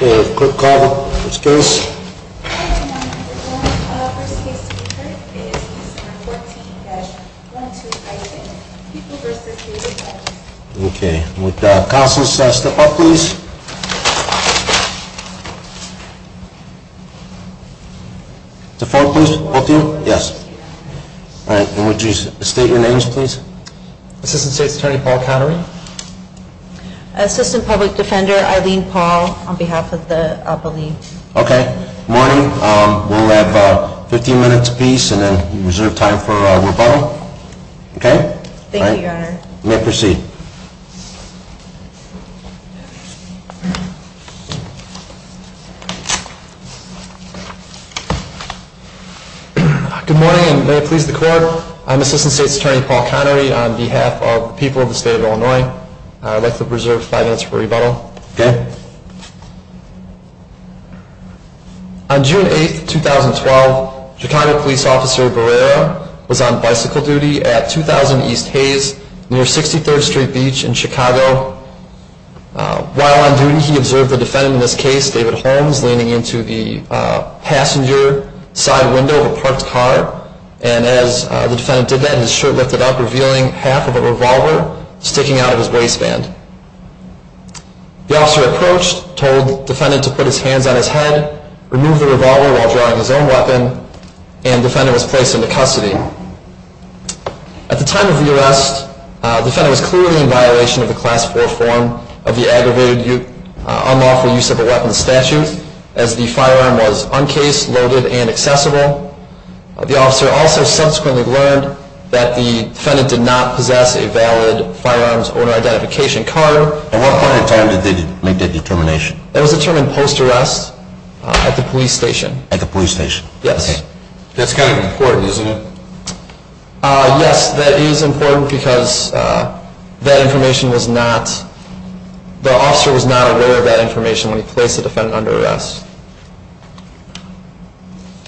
A quick call to the first case. Would counsel step up please? Would you state your names please? Assistant State's Attorney Paul Connery. Assistant Public Defender Eileen Paul on behalf of the Appellee. Okay. Good morning. We'll have 15 minutes a piece and then reserve time for rebuttal. Okay? Thank you, Your Honor. You may proceed. Good morning and may it please the Court. I'm Assistant State's Attorney Paul Connery on behalf of the people of the State of Illinois. I'd like to reserve five minutes for rebuttal. Okay. On June 8, 2012, Chicago Police Officer Barrera was on bicycle duty at 2000 East Hayes near 63rd Street Beach in Chicago. While on duty he observed the defendant in this case, David Holmes, leaning into the passenger side window of a parked car. And as the defendant did that, his shirt lifted up, revealing half of a revolver sticking out of his waistband. The officer approached, told the defendant to put his hands on his head, remove the revolver while drawing his own weapon, and the defendant was placed into custody. At the time of the arrest, the defendant was clearly in violation of the Class IV form of the Aggravated Unlawful Use of a Weapon statute, as the firearm was uncased, loaded, and accessible. The officer also subsequently learned that the defendant did not possess a valid firearms owner identification card. At what point in time did they make that determination? It was determined post-arrest at the police station. At the police station? Yes. That's kind of important, isn't it? Yes, that is important because the officer was not aware of that information when he placed the defendant under arrest.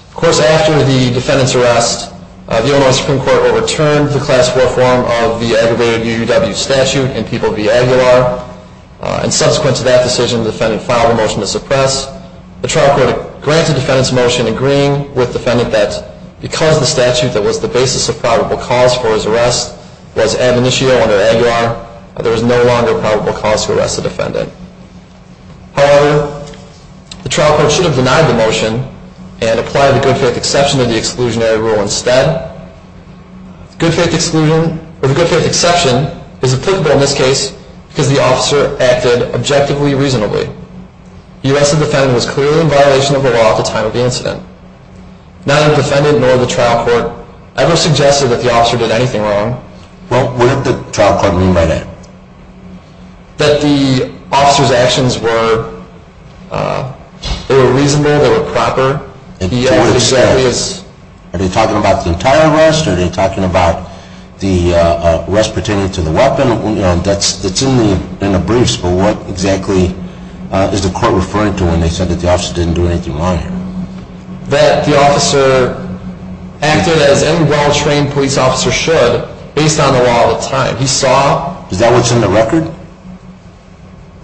Of course, after the defendant's arrest, the Illinois Supreme Court overturned the Class IV form of the Aggravated UUW statute in People v. Aguilar. And subsequent to that decision, the defendant filed a motion to suppress. The trial court granted the defendant's motion, agreeing with the defendant that because the statute that was the basis of probable cause for his arrest was ad initio under Aguilar, there was no longer probable cause to arrest the defendant. However, the trial court should have denied the motion and applied the good faith exception to the exclusionary rule instead. The good faith exception is applicable in this case because the officer acted objectively reasonably. The U.S. defendant was clearly in violation of the law at the time of the incident. Neither the defendant nor the trial court ever suggested that the officer did anything wrong. Well, what did the trial court mean by that? That the officer's actions were reasonable, they were proper. And to what extent? Are they talking about the entire arrest? Are they talking about the arrest pertaining to the weapon? That's in the briefs, but what exactly is the court referring to when they said that the officer didn't do anything wrong here? That the officer acted as any well-trained police officer should based on the law of the time. Is that what's in the record?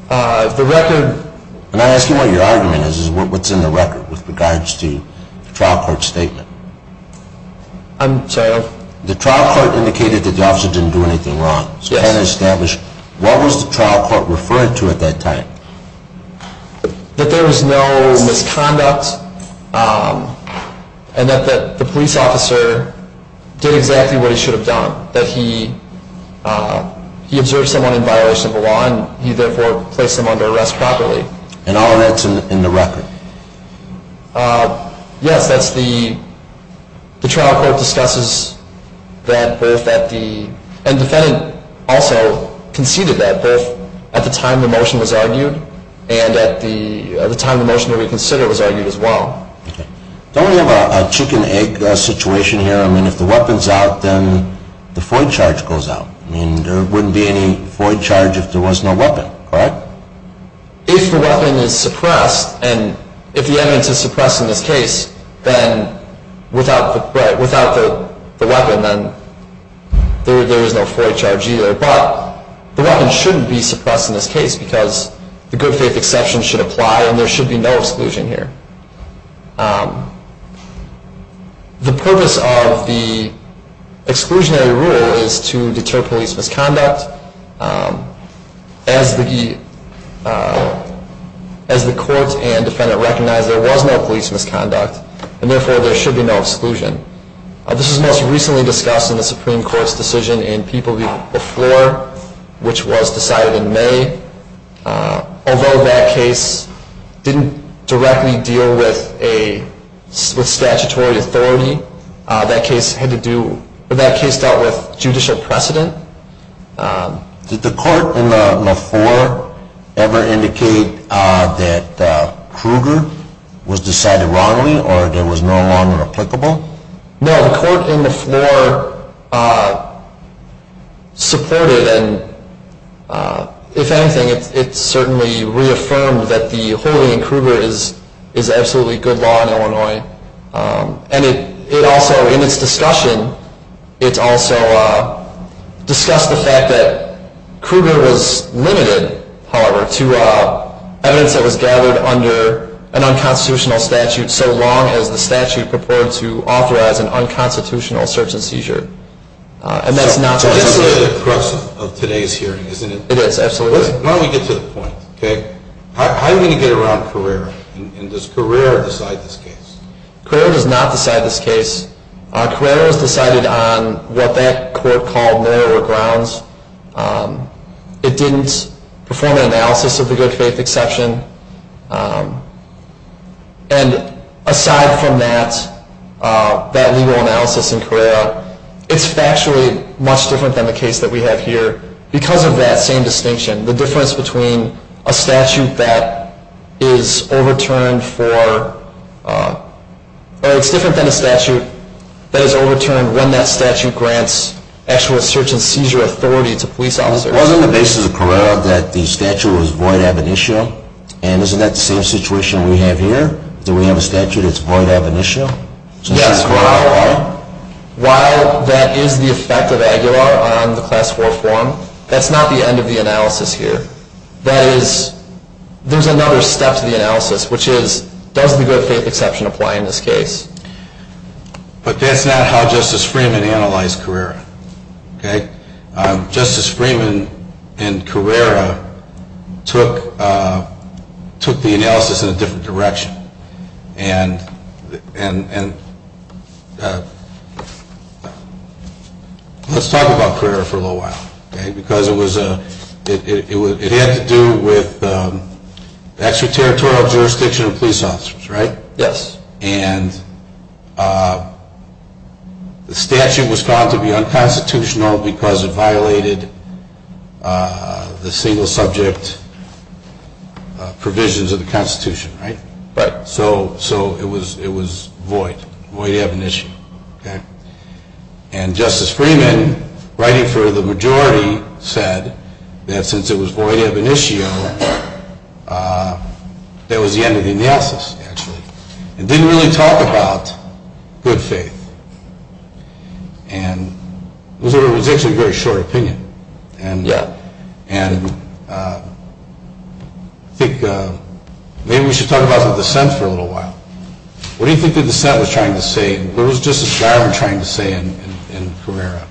I'm not asking what your argument is. What's in the record with regards to the trial court's statement? The trial court indicated that the officer didn't do anything wrong. What was the trial court referring to at that time? That there was no misconduct and that the police officer did exactly what he should have done. That he observed someone in violation of the law and he therefore placed them under arrest properly. And all of that's in the record? Yes, that's the... The trial court discusses that both at the... And the defendant also conceded that both at the time the motion was argued and at the time the motion to reconsider was argued as well. Okay. Don't we have a chicken-egg situation here? I mean, if the weapon's out, then the FOIA charge goes out. I mean, there wouldn't be any FOIA charge if there was no weapon, correct? If the weapon is suppressed and if the evidence is suppressed in this case, then without the weapon, then there is no FOIA charge either. But the weapon shouldn't be suppressed in this case because the good faith exception should apply and there should be no exclusion here. The purpose of the exclusionary rule is to deter police misconduct. As the court and defendant recognized, there was no police misconduct and therefore there should be no exclusion. This was most recently discussed in the Supreme Court's decision in People v. Floor, which was decided in May. Although that case didn't directly deal with statutory authority, that case dealt with judicial precedent. Did the court in the floor ever indicate that Kruger was decided wrongly or there was no longer applicable? No, the court in the floor supported and if anything, it certainly reaffirmed that the holding of Kruger is absolutely good law in Illinois. And it also, in its discussion, it also discussed the fact that Kruger was limited, however, to evidence that was gathered under an unconstitutional statute so long as the statute purported to authorize an unconstitutional search and seizure. And that's not the case. So that's really the crux of today's hearing, isn't it? It is, absolutely. Why don't we get to the point, okay? How do we get around Carrera? And does Carrera decide this case? Carrera does not decide this case. Carrera was decided on what that court called narrower grounds. It didn't perform an analysis of the good faith exception. And aside from that, that legal analysis in Carrera, it's factually much different than the case that we have here because of that same distinction. The difference between a statute that is overturned for, or it's different than a statute that is overturned when that statute grants actual search and seizure authority to police officers. Wasn't the basis of Carrera that the statute was void ab initio? And isn't that the same situation we have here, that we have a statute that's void ab initio? Yes. While that is the effect of Aguilar on the Class IV form, that's not the end of the analysis here. That is, there's another step to the analysis, which is, does the good faith exception apply in this case? But that's not how Justice Freeman analyzed Carrera, okay? Justice Freeman and Carrera took the analysis in a different direction. And let's talk about Carrera for a little while, okay? Because it had to do with extraterritorial jurisdiction of police officers, right? Yes. And the statute was found to be unconstitutional because it violated the single subject provisions of the Constitution, right? Right. So it was void, void ab initio, okay? And Justice Freeman, writing for the majority, said that since it was void ab initio, that was the end of the analysis, actually. It didn't really talk about good faith. And it was actually a very short opinion. Yeah. And I think maybe we should talk about the dissent for a little while. What do you think the dissent was trying to say? What was Justice Garvin trying to say in Carrera?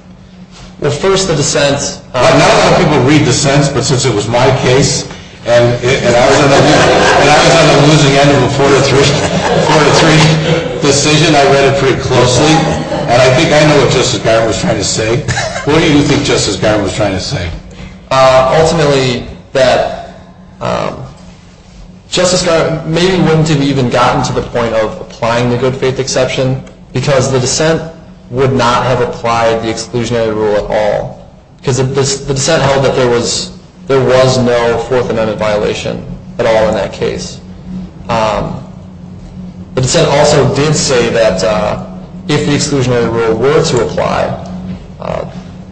Well, first, the dissent. Not that people read dissents, but since it was my case, and I was on the losing end of a four-to-three decision, I read it pretty closely. And I think I know what Justice Garvin was trying to say. What do you think Justice Garvin was trying to say? Ultimately, that Justice Garvin maybe wouldn't have even gotten to the point of applying the good faith exception because the dissent would not have applied the exclusionary rule at all. Because the dissent held that there was no Fourth Amendment violation at all in that case. The dissent also did say that if the exclusionary rule were to apply,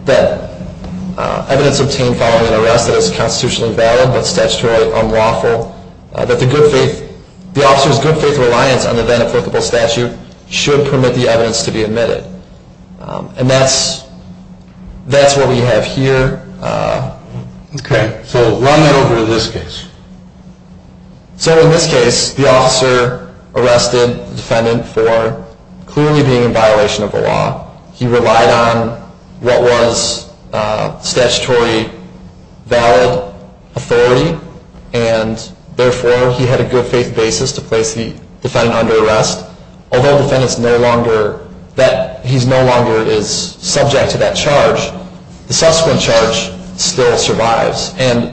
that evidence obtained following an arrest that is constitutionally valid but statutorily unlawful, that the officer's good faith reliance on the then applicable statute should permit the evidence to be admitted. And that's what we have here. Okay. So run that over to this case. So in this case, the officer arrested the defendant for clearly being in violation of the law. He relied on what was statutory valid authority, and therefore he had a good faith basis to place the defendant under arrest. Although the defendant is no longer subject to that charge, the subsequent charge still survives. And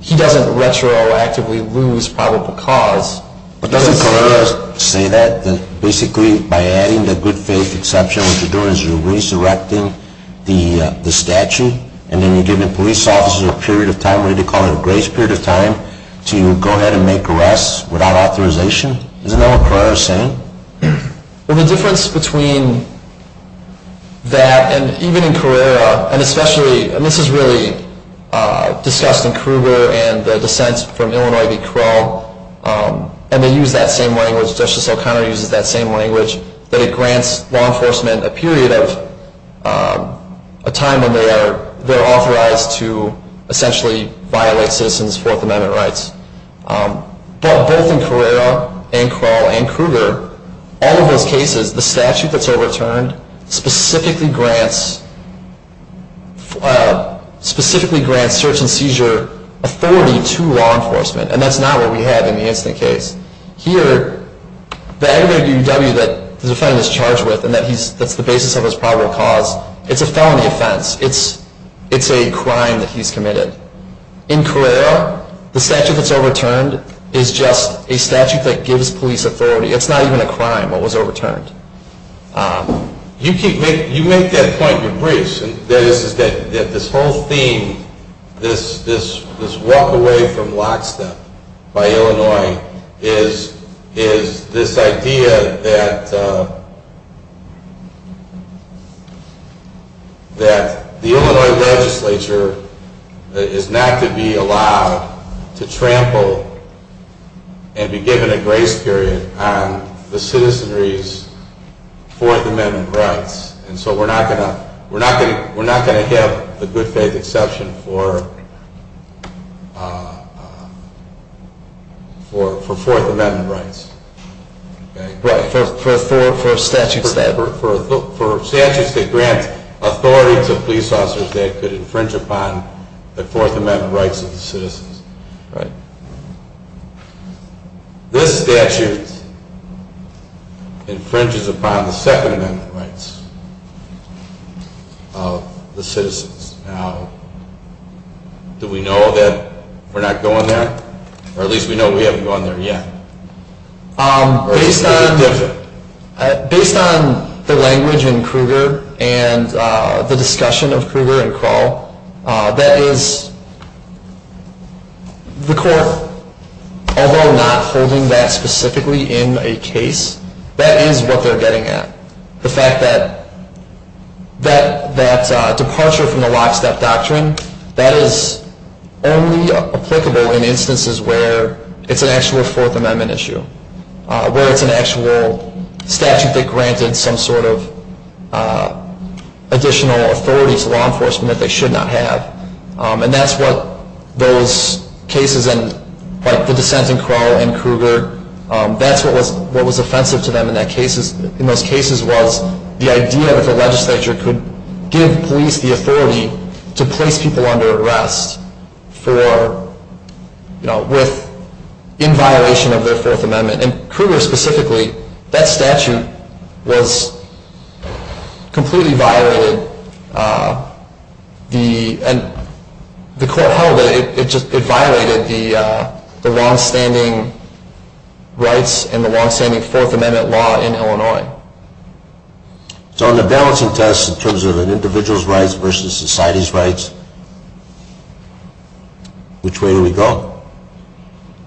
he doesn't retroactively lose probable cause. But doesn't Carrera say that basically by adding the good faith exception, what you're doing is you're resurrecting the statute, and then you're giving police officers a period of time, we call it a grace period of time, to go ahead and make arrests without authorization? Isn't that what Carrera is saying? Well, the difference between that and even in Carrera, and especially, and this is really discussed in Kruger and the dissents from Illinois v. Krull, and they use that same language, Justice O'Connor uses that same language, that it grants law enforcement a period of time when they're authorized to essentially violate citizens' Fourth Amendment rights. But both in Carrera and Krull and Kruger, all of those cases, the statute that's overturned specifically grants search and seizure authority to law enforcement. And that's not what we have in the incident case. Here, the aggravated DUW that the defendant is charged with, and that's the basis of his probable cause, it's a felony offense. It's a crime that he's committed. In Carrera, the statute that's overturned is just a statute that gives police authority. It's not even a crime that was overturned. You make that point in your briefs, that this whole theme, this walk away from lockstep by Illinois, is this idea that the Illinois legislature is not to be allowed to trample and be given a grace period on the citizenry's Fourth Amendment rights. And so we're not going to have the good faith exception for Fourth Amendment rights. For statutes that grant authority to police officers that could infringe upon the Fourth Amendment rights of the citizens. This statute infringes upon the Second Amendment rights of the citizens. Now, do we know that we're not going there? Or at least we know we haven't gone there yet. Based on the language in Kruger and the discussion of Kruger and Krull, that is the court, although not holding that specifically in a case, that is what they're getting at. The fact that departure from the lockstep doctrine, that is only applicable in instances where it's an actual Fourth Amendment issue. Where it's an actual statute that granted some sort of additional authority to law enforcement that they should not have. And that's what those cases, like the dissent in Krull and Kruger, that's what was offensive to them in those cases was the idea that the legislature could give police the authority to place people under arrest in violation of their Fourth Amendment. And Kruger specifically, that statute was completely violated. The court held that it violated the longstanding rights and the longstanding Fourth Amendment law in Illinois. So on the balancing test in terms of an individual's rights versus society's rights, which way do we go?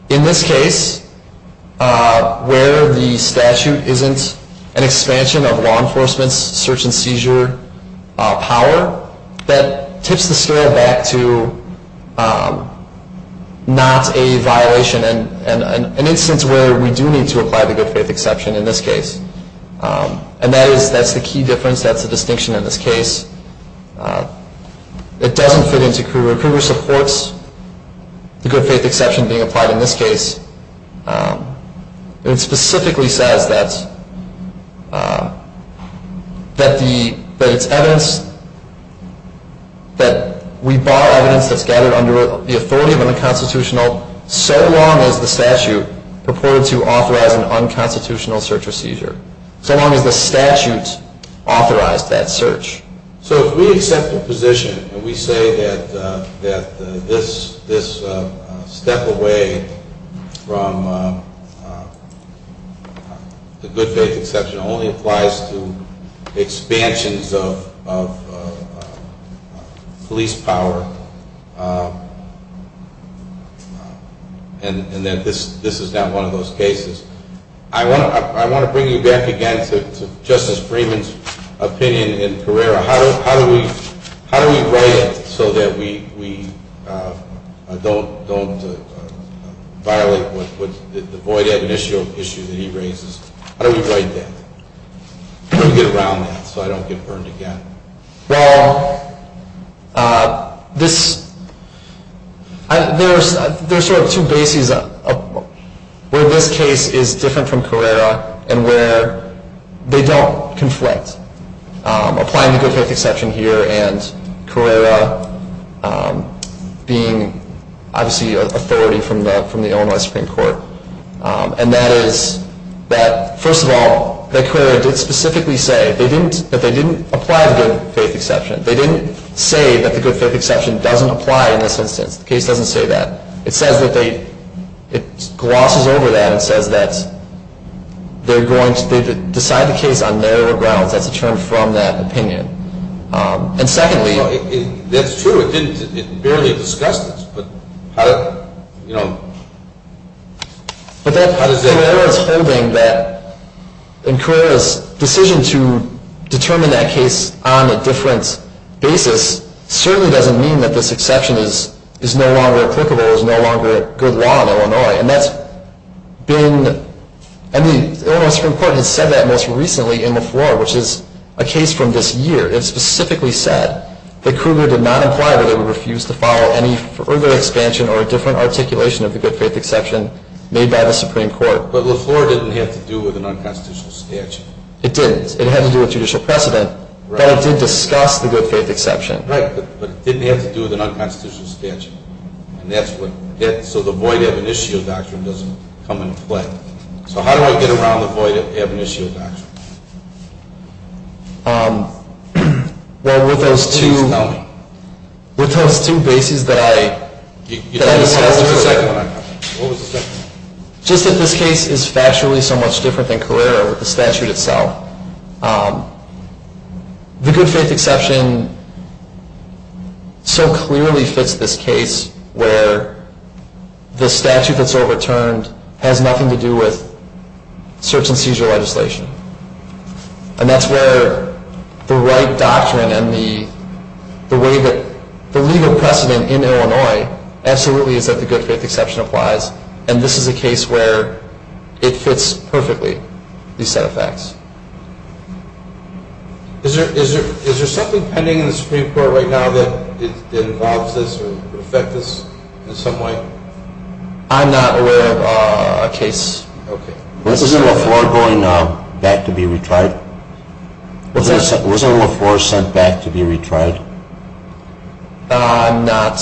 In this case, where the statute isn't an expansion of law enforcement's search and seizure power, that tips the scale back to not a violation and an instance where we do need to apply the good faith exception in this case. And that is, that's the key difference, that's the distinction in this case. It doesn't fit into Kruger. Kruger supports the good faith exception being applied in this case. It specifically says that it's evidence, that we bar evidence that's gathered under the authority of an unconstitutional, so long as the statute purported to authorize an unconstitutional search or seizure. So long as the statute authorized that search. So if we accept the position and we say that this step away from the good faith exception only applies to expansions of police power, and that this is not one of those cases. I want to bring you back again to Justice Freeman's opinion in Carrera. How do we write it so that we don't violate the void admission issue that he raises? How do we write that? How do we get around that so I don't get burned again? Well, there are sort of two bases where this case is different from Carrera and where they don't conflict. Applying the good faith exception here and Carrera being obviously authority from the Illinois Supreme Court. And that is that, first of all, that Carrera did specifically say that they didn't apply the good faith exception. They didn't say that the good faith exception doesn't apply in this instance. The case doesn't say that. It glosses over that and says that they're going to decide the case on their grounds. That's a term from that opinion. That's true. It barely discussed it. But how does that work? Carrera's decision to determine that case on a different basis certainly doesn't mean that this exception is no longer applicable, is no longer a good law in Illinois. And the Illinois Supreme Court has said that most recently in LaFleur, which is a case from this year. It specifically said that Cougar did not imply that it would refuse to follow any further expansion or a different articulation of the good faith exception made by the Supreme Court. But LaFleur didn't have to do with an unconstitutional statute. It didn't. It had to do with judicial precedent, but it did discuss the good faith exception. Right, but it didn't have to do with an unconstitutional statute. So the void ab initio doctrine doesn't come into play. So how do I get around the void ab initio doctrine? Well, with those two bases that I discussed earlier. What was the second one? Just that this case is factually so much different than Carrera or the statute itself. The good faith exception so clearly fits this case where the statute that's overturned has nothing to do with search and seizure legislation. And that's where the right doctrine and the way that the legal precedent in Illinois absolutely is that the good faith exception applies. And this is a case where it fits perfectly, these set of facts. Is there something pending in the Supreme Court right now that involves this or would affect this in some way? I'm not aware of a case. Was it LaFleur going back to be retried? Was it LaFleur sent back to be retried? I'm not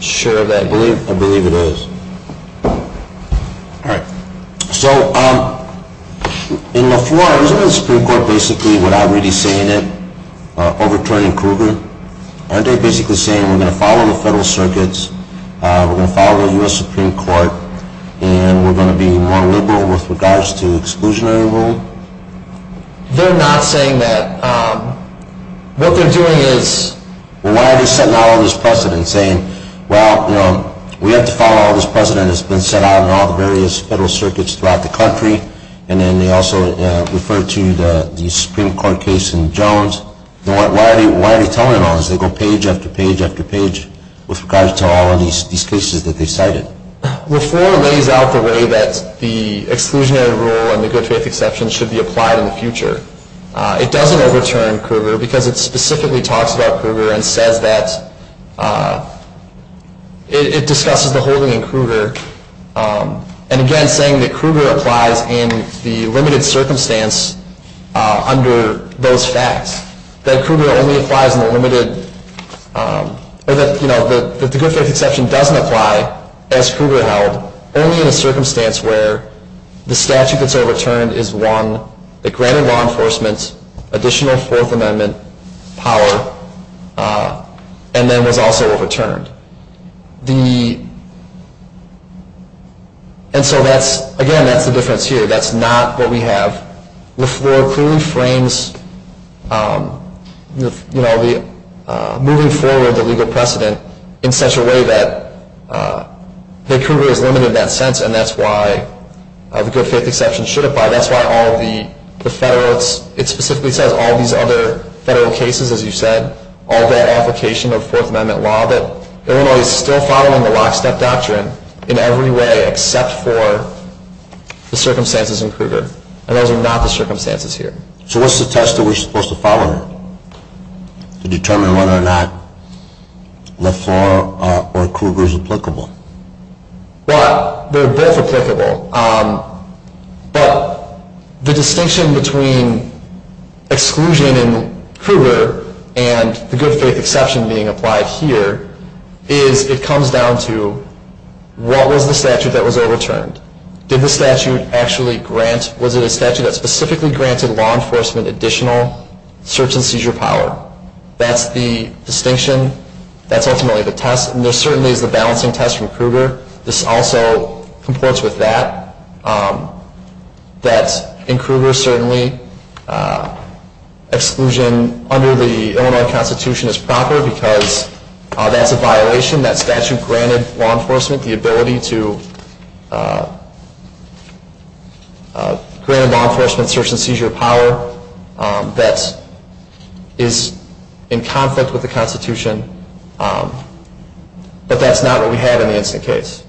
sure. I believe it is. All right. So in LaFleur, isn't the Supreme Court basically without really saying it, overturning Kruger? Aren't they basically saying we're going to follow the federal circuits, we're going to follow the U.S. Supreme Court, and we're going to be more liberal with regards to exclusionary rule? They're not saying that. What they're doing is why are they setting out all this precedent and saying, well, we have to follow all this precedent that's been set out in all the various federal circuits throughout the country, and then they also refer to the Supreme Court case in Jones. Why are they telling it all? They go page after page after page with regards to all of these cases that they cited. LaFleur lays out the way that the exclusionary rule and the good faith exception should be applied in the future. It doesn't overturn Kruger because it specifically talks about Kruger and says that it discusses the holding in Kruger, and again saying that Kruger applies in the limited circumstance under those facts, that Kruger only applies in the limited, or that the good faith exception doesn't apply as Kruger held, only in a circumstance where the statute that's overturned is one that granted law enforcement additional Fourth Amendment power and then was also overturned. And so, again, that's the difference here. That's not what we have. LaFleur clearly frames moving forward the legal precedent in such a way that Kruger is limited in that sense, and that's why the good faith exception should apply. That's why all the federalists, it specifically says all these other federal cases, as you said, all that application of Fourth Amendment law, that Illinois is still following the lockstep doctrine in every way except for the circumstances in Kruger, and those are not the circumstances here. So what's the test that we're supposed to follow here to determine whether or not LaFleur or Kruger is applicable? Well, they're both applicable, but the distinction between exclusion in Kruger and the good faith exception being applied here is it comes down to what was the statute that was overturned? Did the statute actually grant, was it a statute that specifically granted law enforcement additional search and seizure power? That's the distinction. That's ultimately the test, and there certainly is the balancing test from Kruger. This also comports with that, that in Kruger certainly exclusion under the Illinois Constitution is proper because that's a violation. That statute granted law enforcement the ability to grant law enforcement search and seizure power that is in conflict with the Constitution, but that's not what we had in the instant case.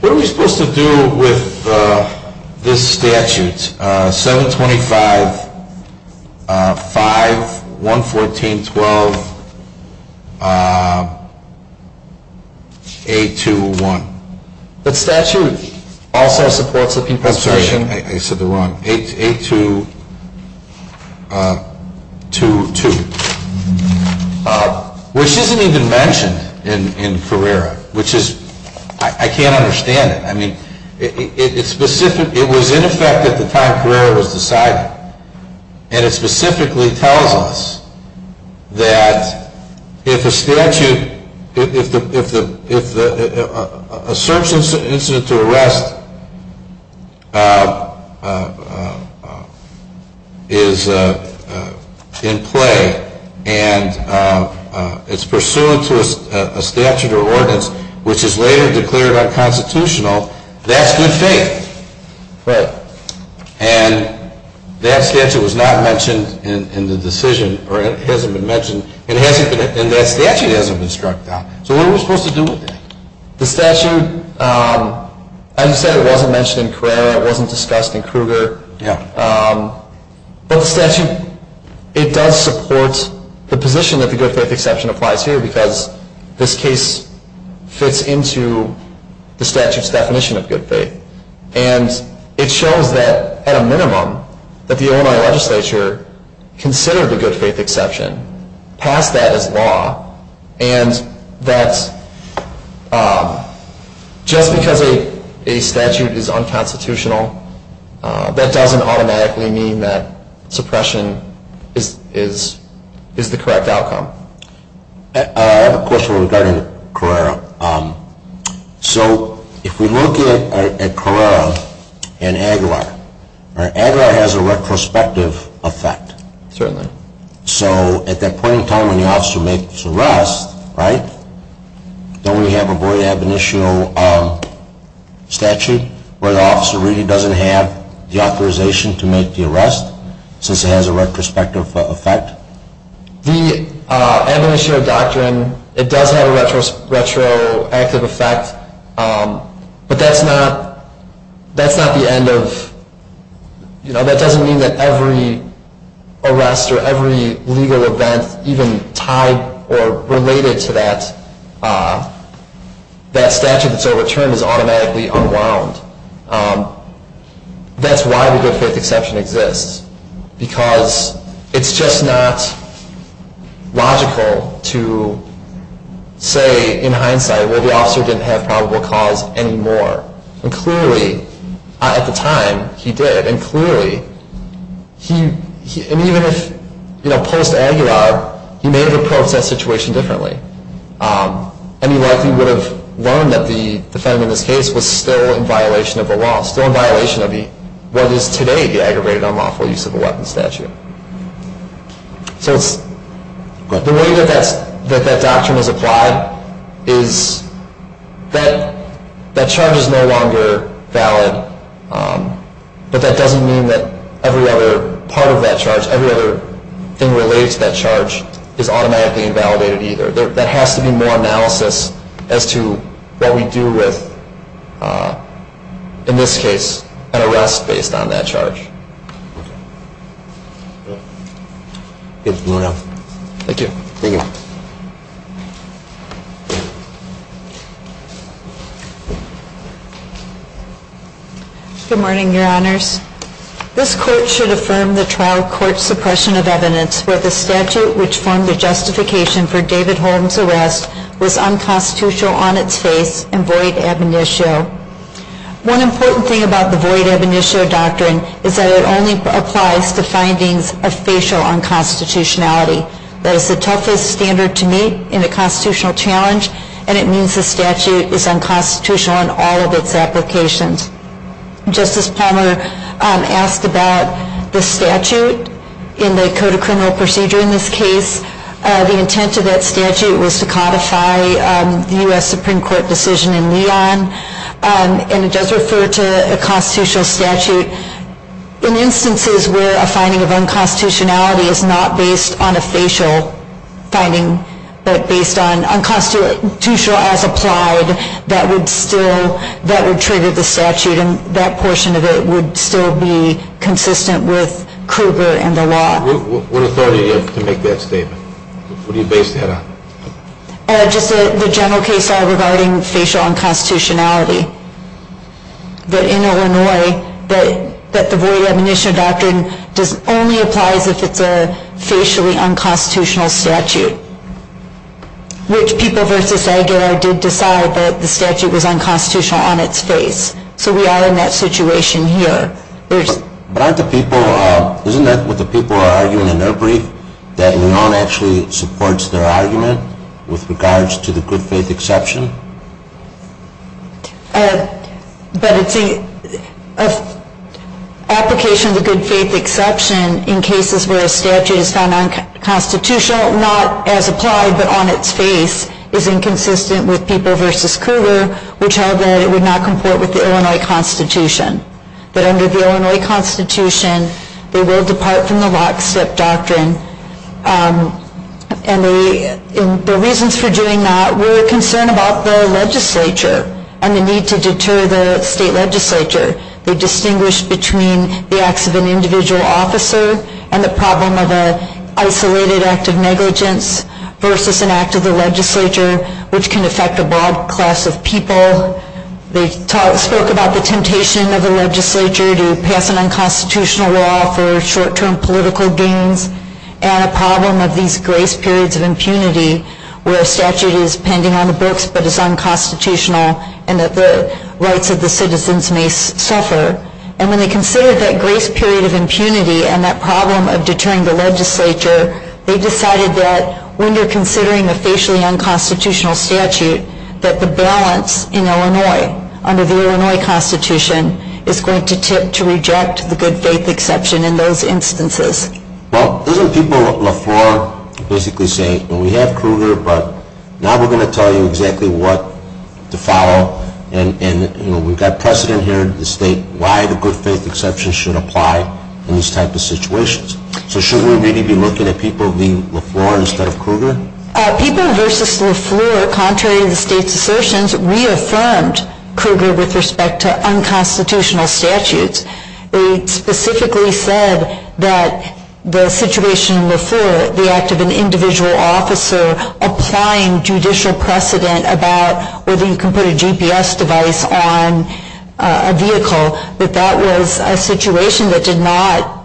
What are we supposed to do with this statute, 725.5, 114.12, 821? That statute also supports the Constitution. I'm sorry. I said the wrong, 822, which isn't even mentioned in Carrera, which is, I can't understand it. I mean, it was in effect at the time Carrera was decided, and it specifically tells us that if a statute, if a search incident to arrest is in play and it's pursuant to a statute or ordinance which is later declared unconstitutional, that's good faith. Right. And that statute was not mentioned in the decision, or it hasn't been mentioned, and that statute hasn't been struck down. So what are we supposed to do with that? The statute, as you said, it wasn't mentioned in Carrera, it wasn't discussed in Kruger. Yeah. But the statute, it does support the position that the good faith exception applies here because this case fits into the statute's definition of good faith. And it shows that, at a minimum, that the Illinois legislature considered the good faith exception, passed that as law, and that just because a statute is unconstitutional, that doesn't automatically mean that suppression is the correct outcome. I have a question regarding Carrera. So if we look at Carrera and Aguilar, Aguilar has a retrospective effect. Certainly. So at that point in time when the officer makes the arrest, right, don't we have a void ab initio statute where the officer really doesn't have the authorization to make the arrest, since it has a retrospective effect? The ab initio doctrine, it does have a retroactive effect, but that's not the end of, you know, that doesn't mean that every arrest or every legal event even tied or related to that statute that's overturned is automatically unwound. That's why the good faith exception exists, because it's just not logical to say in hindsight, well, the officer didn't have probable cause anymore. And clearly, at the time, he did. And clearly, and even if, you know, post-Aguilar, he may have approached that situation differently. And he likely would have learned that the defendant in this case was still in violation of the law, still in violation of what is today the aggravated unlawful use of a weapon statute. So the way that that doctrine is applied is that that charge is no longer valid, but that doesn't mean that every other part of that charge, every other thing related to that charge is automatically invalidated either. There has to be more analysis as to what we do with, in this case, an arrest based on that charge. Thank you. Thank you. Good morning, Your Honors. This Court should affirm the trial court suppression of evidence where the statute which formed the justification for David Holmes' arrest was unconstitutional on its face and void ab initio. One important thing about the void ab initio doctrine is that it only applies to findings of facial unconstitutionality. That is the toughest standard to meet in a constitutional challenge, and it means the statute is unconstitutional in all of its applications. Justice Palmer asked about the statute in the Code of Criminal Procedure in this case. The intent of that statute was to codify the U.S. Supreme Court decision in Leon, and it does refer to a constitutional statute. In instances where a finding of unconstitutionality is not based on a facial finding but based on unconstitutional as applied, that would trigger the statute, and that portion of it would still be consistent with Kruger and the law. What authority do you have to make that statement? What do you base that on? Just the general case law regarding facial unconstitutionality. I think it's important to note that in Illinois, that the void ab initio doctrine only applies if it's a facially unconstitutional statute, which People v. Aguilar did decide that the statute was unconstitutional on its face, so we are in that situation here. But aren't the people, isn't that what the people are arguing in their brief, that Leon actually supports their argument with regards to the good faith exception? But it's an application of the good faith exception in cases where a statute is found unconstitutional, not as applied but on its face, is inconsistent with People v. Kruger, which held that it would not comport with the Illinois Constitution. That under the Illinois Constitution, they will depart from the lockstep doctrine, and the reasons for doing that were a concern about the legislature and the need to deter the state legislature. They distinguished between the acts of an individual officer and the problem of an isolated act of negligence versus an act of the legislature, which can affect a broad class of people. They spoke about the temptation of the legislature to pass an unconstitutional law for short-term political gains, and a problem of these grace periods of impunity where a statute is pending on the books but is unconstitutional and that the rights of the citizens may suffer. And when they considered that grace period of impunity and that problem of deterring the legislature, they decided that when you're considering a facially unconstitutional statute, that the balance in Illinois, under the Illinois Constitution, is going to tip to reject the good-faith exception in those instances. Well, those are people Lafleur basically saying, we have Kruger, but now we're going to tell you exactly what to follow, and we've got precedent here in the state, why the good-faith exception should apply in these types of situations. So should we really be looking at People v. Lafleur instead of Kruger? People v. Lafleur, contrary to the state's assertions, reaffirmed Kruger with respect to unconstitutional statutes. It specifically said that the situation in Lafleur, the act of an individual officer applying judicial precedent about whether you can put a GPS device on a vehicle, that that was a situation that did not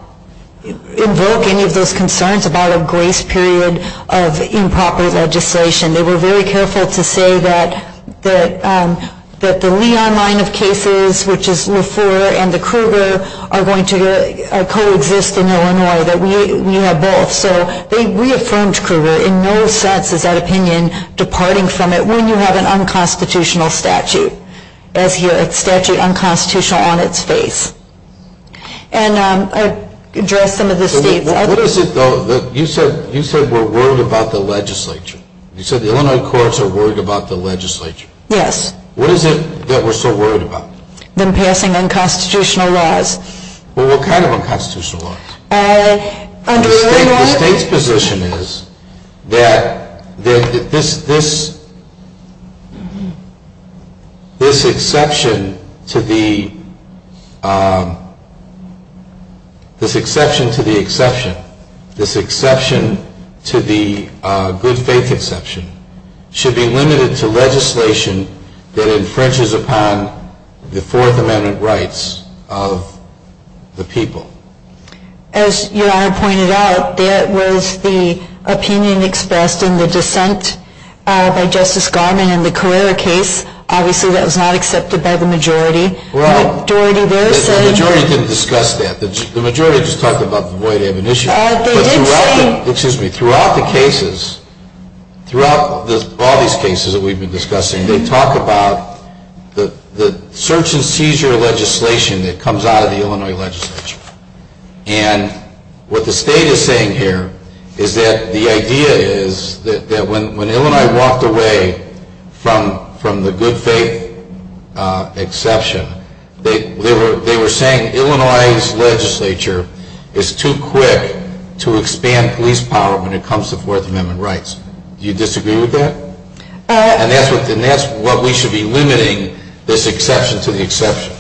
invoke any of those concerns about a grace period of improper legislation. They were very careful to say that the Leon line of cases, which is Lafleur and the Kruger, are going to coexist in Illinois, that we have both. So they reaffirmed Kruger. In no sense is that opinion departing from it when you have an unconstitutional statute, a statute unconstitutional on its face. And I addressed some of the states. You said we're worried about the legislature. You said the Illinois courts are worried about the legislature. Yes. What is it that we're so worried about? Them passing unconstitutional laws. Well, what kind of unconstitutional laws? The state's position is that this exception to the exception, this exception to the good faith exception, should be limited to legislation that infringes upon the Fourth Amendment rights of the people. As Your Honor pointed out, there was the opinion expressed in the dissent by Justice Garmon in the Carrera case. Obviously that was not accepted by the majority. Well, the majority didn't discuss that. The majority just talked about the void amnesty. But throughout the cases, throughout all these cases that we've been discussing, they talk about the search and seizure legislation that comes out of the Illinois legislature. And what the state is saying here is that the idea is that when Illinois walked away from the good faith exception, they were saying Illinois's legislature is too quick to expand police power when it comes to Fourth Amendment rights. Do you disagree with that? And that's what we should be limiting this exception to the exception.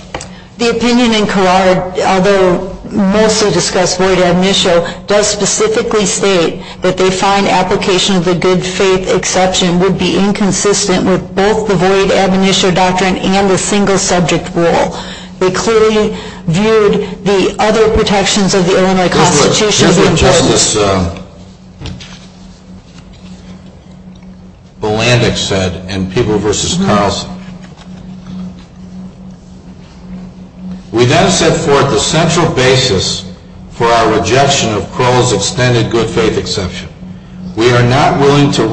The opinion in Carrera, although mostly discussed void amnesia, does specifically state that they find application of the good faith exception would be inconsistent with both the void amnesia doctrine and the single subject rule. They clearly viewed the other protections of the Illinois Constitution Here's what Justice Bolandek said in People v. Carlson. We then set forth the central basis for our rejection of Crowell's extended good faith exception. We are not willing to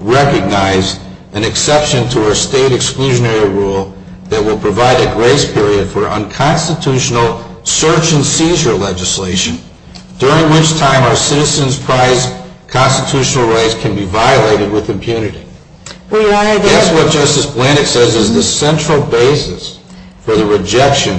recognize an exception to our state exclusionary rule that will provide a grace period for unconstitutional search and seizure legislation, during which time our citizens' constitutional rights can be violated with impunity. That's what Justice Bolandek says is the central basis for the rejection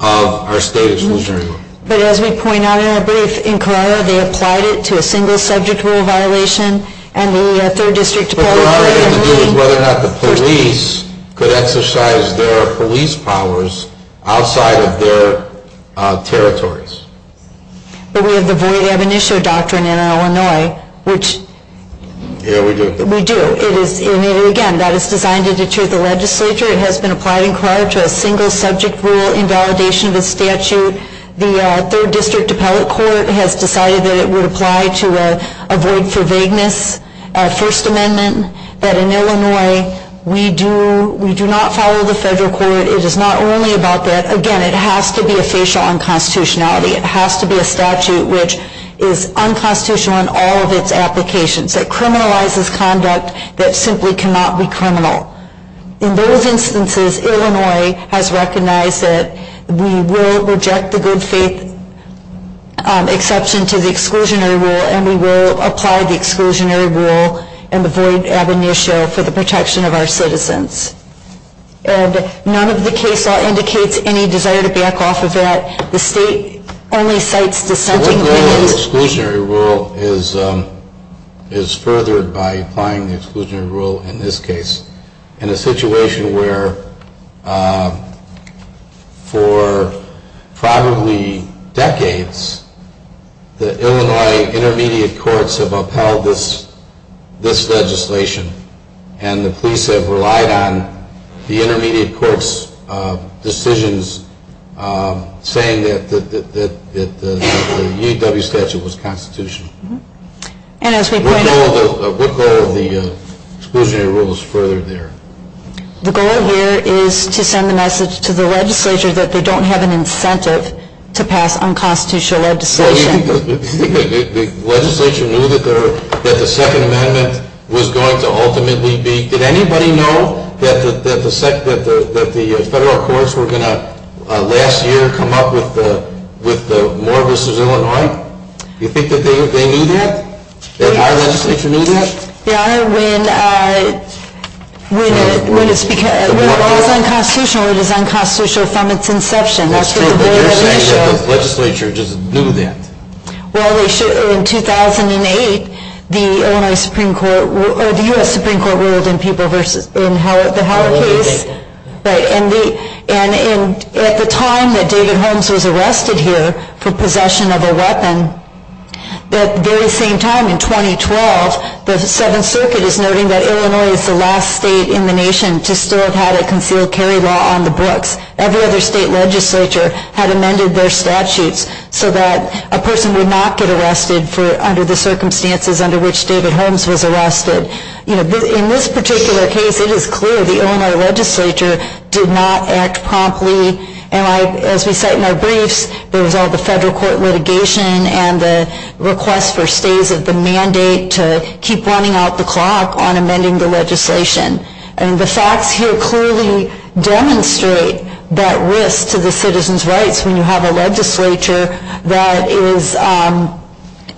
of our state exclusionary rule. But as we point out in our brief, in Carrera, they applied it to a single subject rule violation and the third district department. What Carrera had to do was whether or not the police could exercise their police powers outside of their territories. But we have the void amnesia doctrine in Illinois. Yeah, we do. We do. Again, that is designed to deter the legislature. It has been applied in Carrera to a single subject rule in validation of the statute. The third district appellate court has decided that it would apply to a void for vagueness First Amendment. That in Illinois, we do not follow the federal court. It is not only about that. Again, it has to be a facial unconstitutionality. It has to be a statute which is unconstitutional in all of its applications. It criminalizes conduct that simply cannot be criminal. In those instances, Illinois has recognized that we will reject the good faith exception to the exclusionary rule and we will apply the exclusionary rule and the void amnesia for the protection of our citizens. And none of the case law indicates any desire to back off of that. The state only cites dissenting opinions. The exclusionary rule is furthered by applying the exclusionary rule in this case in a situation where for probably decades the Illinois Intermediate Courts have upheld this legislation and the police have relied on the Intermediate Courts' decisions saying that the UW statute was constitutional. What goal of the exclusionary rule is furthered there? The goal here is to send the message to the legislature that they don't have an incentive to pass unconstitutional legislation. Well, you think the legislature knew that the Second Amendment was going to ultimately be? Did anybody know that the federal courts were going to last year come up with the Moore v. Illinois? You think that they knew that? That our legislature knew that? Your Honor, when law is unconstitutional, it is unconstitutional from its inception. You're saying that the legislature just knew that? Well, in 2008, the U.S. Supreme Court ruled in the Howard case. And at the time that David Holmes was arrested here for possession of a weapon, at the very same time in 2012, the Seventh Circuit is noting that Illinois is the last state in the nation to still have had a concealed carry law on the books. Every other state legislature had amended their statutes so that a person would not get arrested under the circumstances under which David Holmes was arrested. In this particular case, it is clear the Illinois legislature did not act promptly. As we cite in our briefs, there was all the federal court litigation and the request for stays of the mandate to keep running out the clock on amending the legislation. And the facts here clearly demonstrate that risk to the citizens' rights when you have a legislature that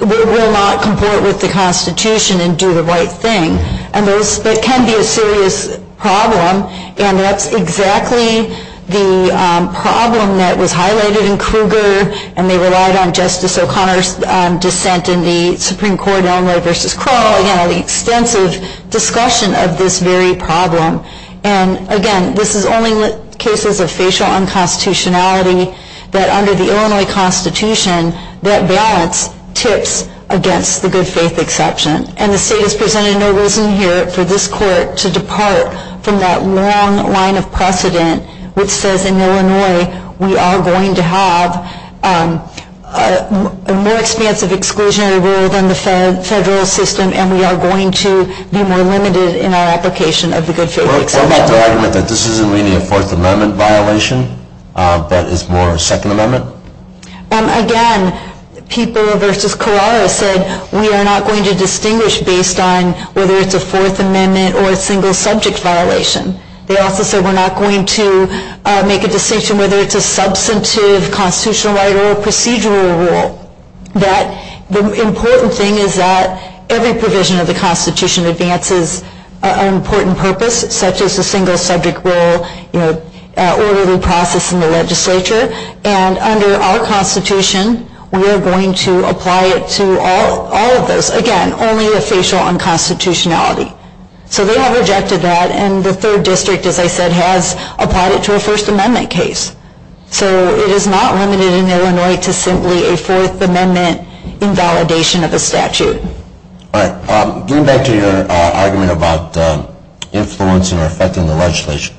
will not comport with the Constitution and do the right thing. And that can be a serious problem. And that's exactly the problem that was highlighted in Kruger and they relied on Justice O'Connor's dissent in the Supreme Court in Illinois v. Crowell, you know, the extensive discussion of this very problem. And again, this is only cases of facial unconstitutionality that under the Illinois Constitution, that balance tips against the good faith exception. And the state has presented no reason here for this court to depart from that long line of precedent which says in Illinois, we are going to have a more expansive exclusionary rule than the federal system and we are going to be more limited in our application of the good faith exception. What about the argument that this isn't really a Fourth Amendment violation but is more a Second Amendment? Again, People v. Carrara said we are not going to distinguish based on whether it's a Fourth Amendment or a single subject violation. They also said we're not going to make a distinction whether it's a substantive constitutional right or a procedural rule. The important thing is that every provision of the Constitution advances an important purpose such as the single subject rule, you know, orderly process in the legislature. And under our Constitution, we are going to apply it to all of those. Again, only the facial unconstitutionality. So they have rejected that and the third district, as I said, has applied it to a First Amendment case. So it is not limited in Illinois to simply a Fourth Amendment invalidation of a statute. All right, getting back to your argument about influencing or affecting the legislation,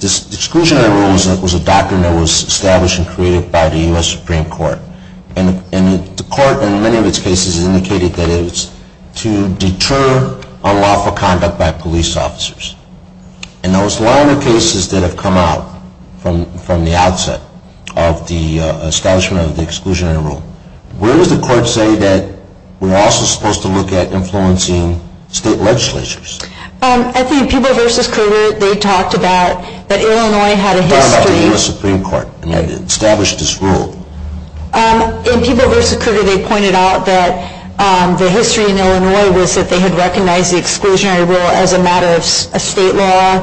this exclusionary rule was a doctrine that was established and created by the U.S. Supreme Court. And the court in many of its cases indicated that it was to deter unlawful conduct by police officers. In those longer cases that have come out from the outset of the establishment of the exclusionary rule, where does the court say that we're also supposed to look at influencing state legislatures? I think in People v. Kruger, they talked about that Illinois had a history. They talked about the U.S. Supreme Court established this rule. In People v. Kruger, they pointed out that the history in Illinois was that they had recognized the exclusionary rule as a matter of state law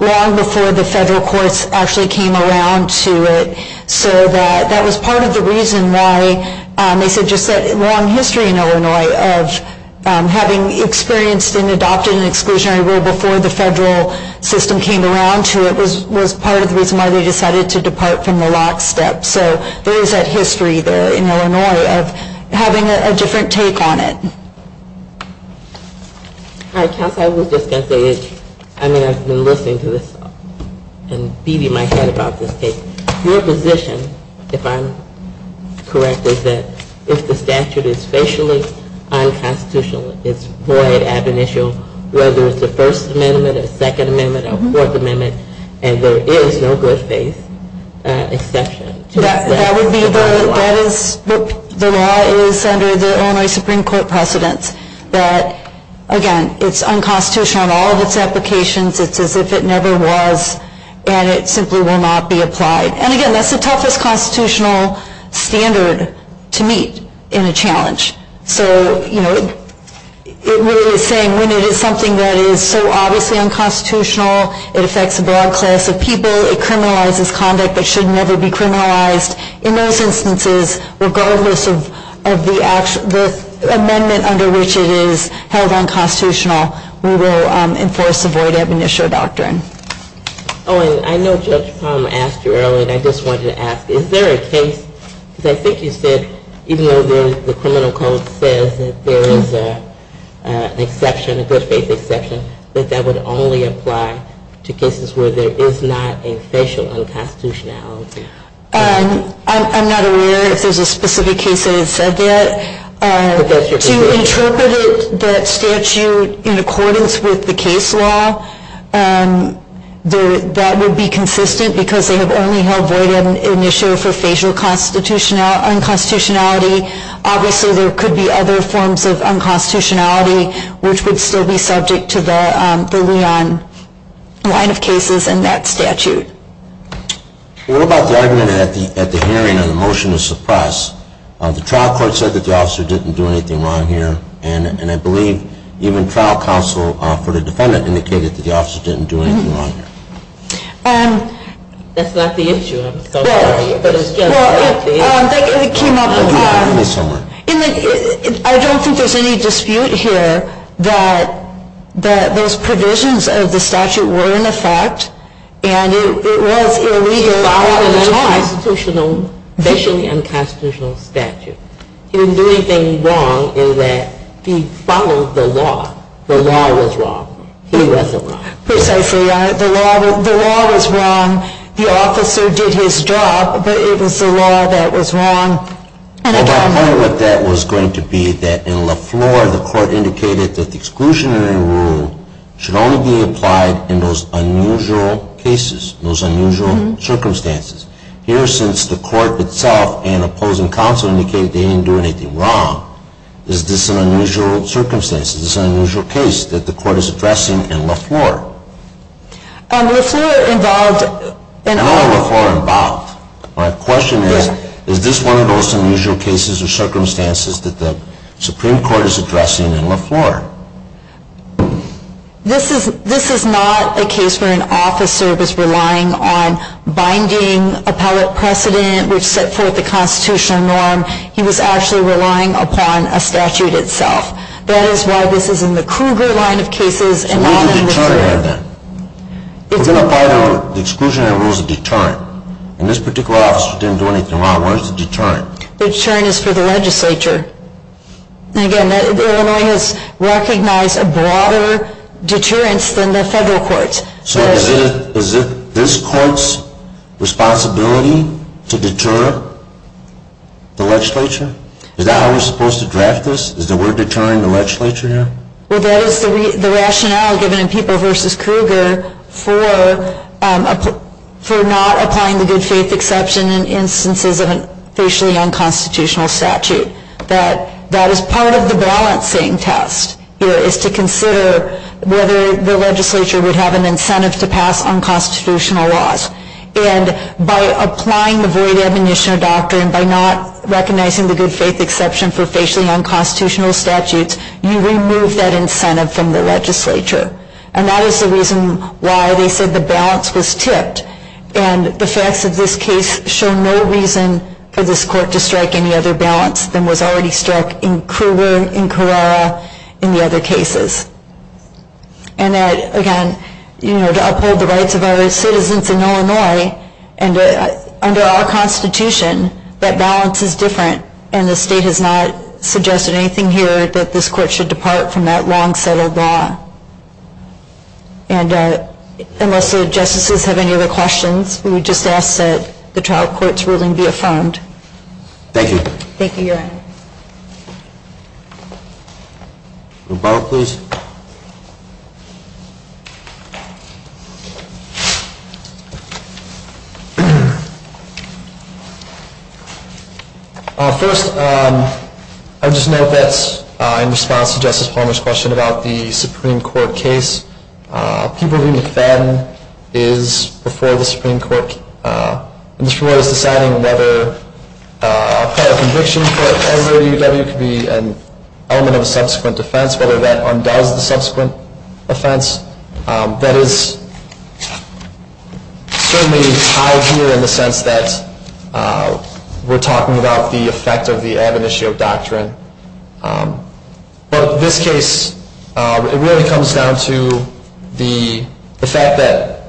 long before the federal courts actually came around to it. So that was part of the reason why they said just that long history in Illinois of having experienced and adopted an exclusionary rule before the federal system came around to it was part of the reason why they decided to depart from the lockstep. So there is that history there in Illinois of having a different take on it. All right, Counsel, I was just going to say, I mean, I've been listening to this, and Phoebe might have heard about this case. Your position, if I'm correct, is that if the statute is facially unconstitutional, it's void, ab initio, whether it's a First Amendment, a Second Amendment, a Fourth Amendment, and there is no good faith exception. That would be the law. The law is under the Illinois Supreme Court precedence that, again, it's unconstitutional in all of its applications. It's as if it never was, and it simply will not be applied. And, again, that's the toughest constitutional standard to meet in a challenge. So, you know, it really is saying when it is something that is so obviously unconstitutional, it affects a broad class of people, it criminalizes conduct that should never be criminalized, in those instances, regardless of the amendment under which it is held unconstitutional, we will enforce a void ab initio doctrine. Oh, and I know Judge Palm asked you earlier, and I just wanted to ask, is there a case, because I think you said even though the criminal code says that there is an exception, a good faith exception, that that would only apply to cases where there is not a facial unconstitutionality. I'm not aware if there's a specific case that has said that. To interpret that statute in accordance with the case law, that would be consistent because they have only held void ab initio for facial unconstitutionality. Obviously, there could be other forms of unconstitutionality, which would still be subject to the Leon line of cases in that statute. What about the argument at the hearing on the motion to suppress? The trial court said that the officer didn't do anything wrong here, and I believe even trial counsel for the defendant indicated that the officer didn't do anything wrong here. That's not the issue, I'm so sorry. Well, it came up, I don't think there's any dispute here that those provisions of the statute were in effect, and it was illegal at the time. It was an unconstitutional, facially unconstitutional statute. He didn't do anything wrong in that he followed the law. The law was wrong. He wasn't wrong. Precisely. The law was wrong. The officer did his job, but it was the law that was wrong. And I don't know what that was going to be, that in Lafleur, the court indicated that the exclusionary rule should only be applied in those unusual cases, those unusual circumstances. Here, since the court itself and opposing counsel indicated that he didn't do anything wrong, is this an unusual circumstance? Is this an unusual case that the court is addressing in Lafleur? Lafleur involved in all of this. No, Lafleur involved. My question is, is this one of those unusual cases or circumstances that the Supreme Court is addressing in Lafleur? This is not a case where an officer was relying on binding appellate precedent, which set forth the constitutional norm. He was actually relying upon a statute itself. That is why this is in the Kruger line of cases and not in Lafleur. So what does the deterrent have then? The exclusionary rule is a deterrent, and this particular officer didn't do anything wrong. Why is it a deterrent? The deterrent is for the legislature. And again, Illinois has recognized a broader deterrence than the federal courts. So is it this court's responsibility to deter the legislature? Is that how we're supposed to draft this? Is the word deterring the legislature here? Well, that is the rationale given in People v. Kruger for not applying the good faith exception in instances of a facially unconstitutional statute. That is part of the balancing test here, is to consider whether the legislature would have an incentive to pass unconstitutional laws. And by applying the void admonition doctrine, by not recognizing the good faith exception for facially unconstitutional statutes, you remove that incentive from the legislature. And that is the reason why they said the balance was tipped. And the facts of this case show no reason for this court to strike any other balance than was already struck in Kruger, in Carrara, in the other cases. And that, again, to uphold the rights of our citizens in Illinois, and under our Constitution, that balance is different, and the state has not suggested anything here that this court should depart from that long-settled law. And unless the Justices have any other questions, we would just ask that the trial court's ruling be affirmed. Thank you. Thank you, Your Honor. First, I would just note that in response to Justice Palmer's question about the Supreme Court case, people who defend is before the Supreme Court, and the Supreme Court is deciding whether a prior conviction for a category of UW could be an element of a subsequent offense, whether that undoes the subsequent offense. That is certainly tied here in the sense that we're talking about the effect of the admonition of doctrine. But this case, it really comes down to the fact that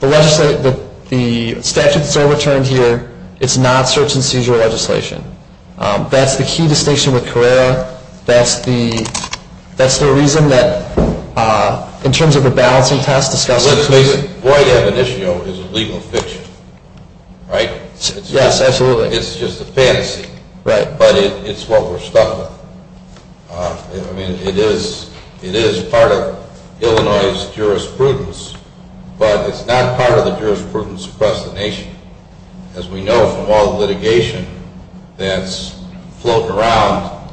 the statute that's overturned here, it's not search and seizure legislation. That's the key distinction with Carrara. That's the reason that in terms of the balancing test discussed in the case. What I have in issue is a legal fiction, right? Yes, absolutely. It's just a fantasy. Right. But it's what we're stuck with. I mean, it is part of Illinois' jurisprudence, but it's not part of the jurisprudence across the nation. As we know from all the litigation that's floating around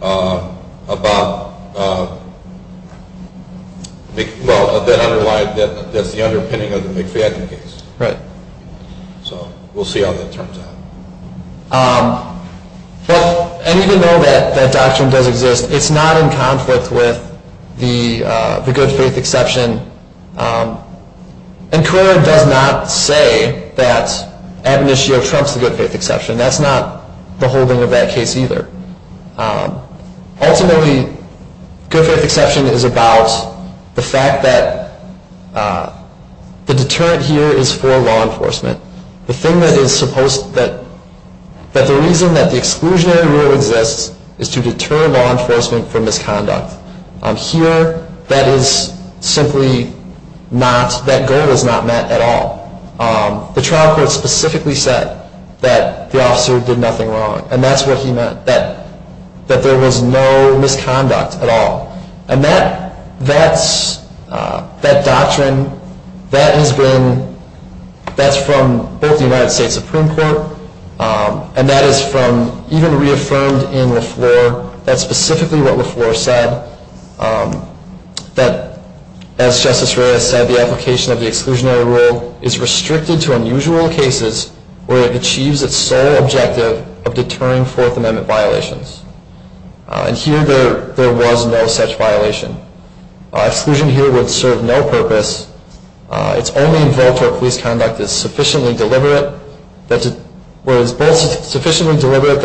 about, well, that's the underpinning of the McFadden case. Right. So we'll see how that turns out. But even though that doctrine does exist, it's not in conflict with the good faith exception. And Carrara does not say that admonitio trumps the good faith exception. That's not the holding of that case either. Ultimately, good faith exception is about the fact that the deterrent here is for law enforcement. The reason that the exclusionary rule exists is to deter law enforcement from misconduct. Here, that goal is not met at all. The trial court specifically said that the officer did nothing wrong, and that's what he meant, that there was no misconduct at all. And that doctrine, that's from both the United States Supreme Court, and that is from even reaffirmed in LaFleur. That's specifically what LaFleur said, that, as Justice Reyes said, the application of the exclusionary rule is restricted to unusual cases where it achieves its sole objective of deterring Fourth Amendment violations. And here, there was no such violation. Exclusion here would serve no purpose. It's only involved where police conduct is sufficiently deliberate that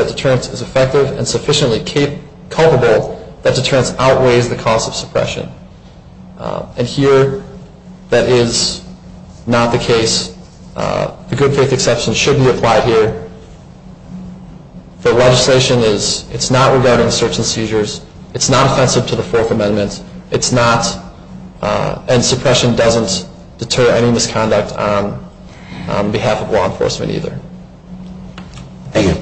deterrence is effective and sufficiently culpable that deterrence outweighs the cost of suppression. And here, that is not the case. The good faith exception should be applied here. The legislation is not regarding search and seizures. It's not offensive to the Fourth Amendment. It's not, and suppression doesn't deter any misconduct on behalf of law enforcement either. Thank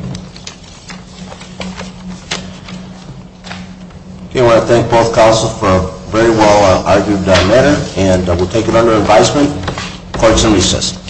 you. I want to thank both colleges for a very well-argued matter, and we'll take it under advisement. Court is in recess.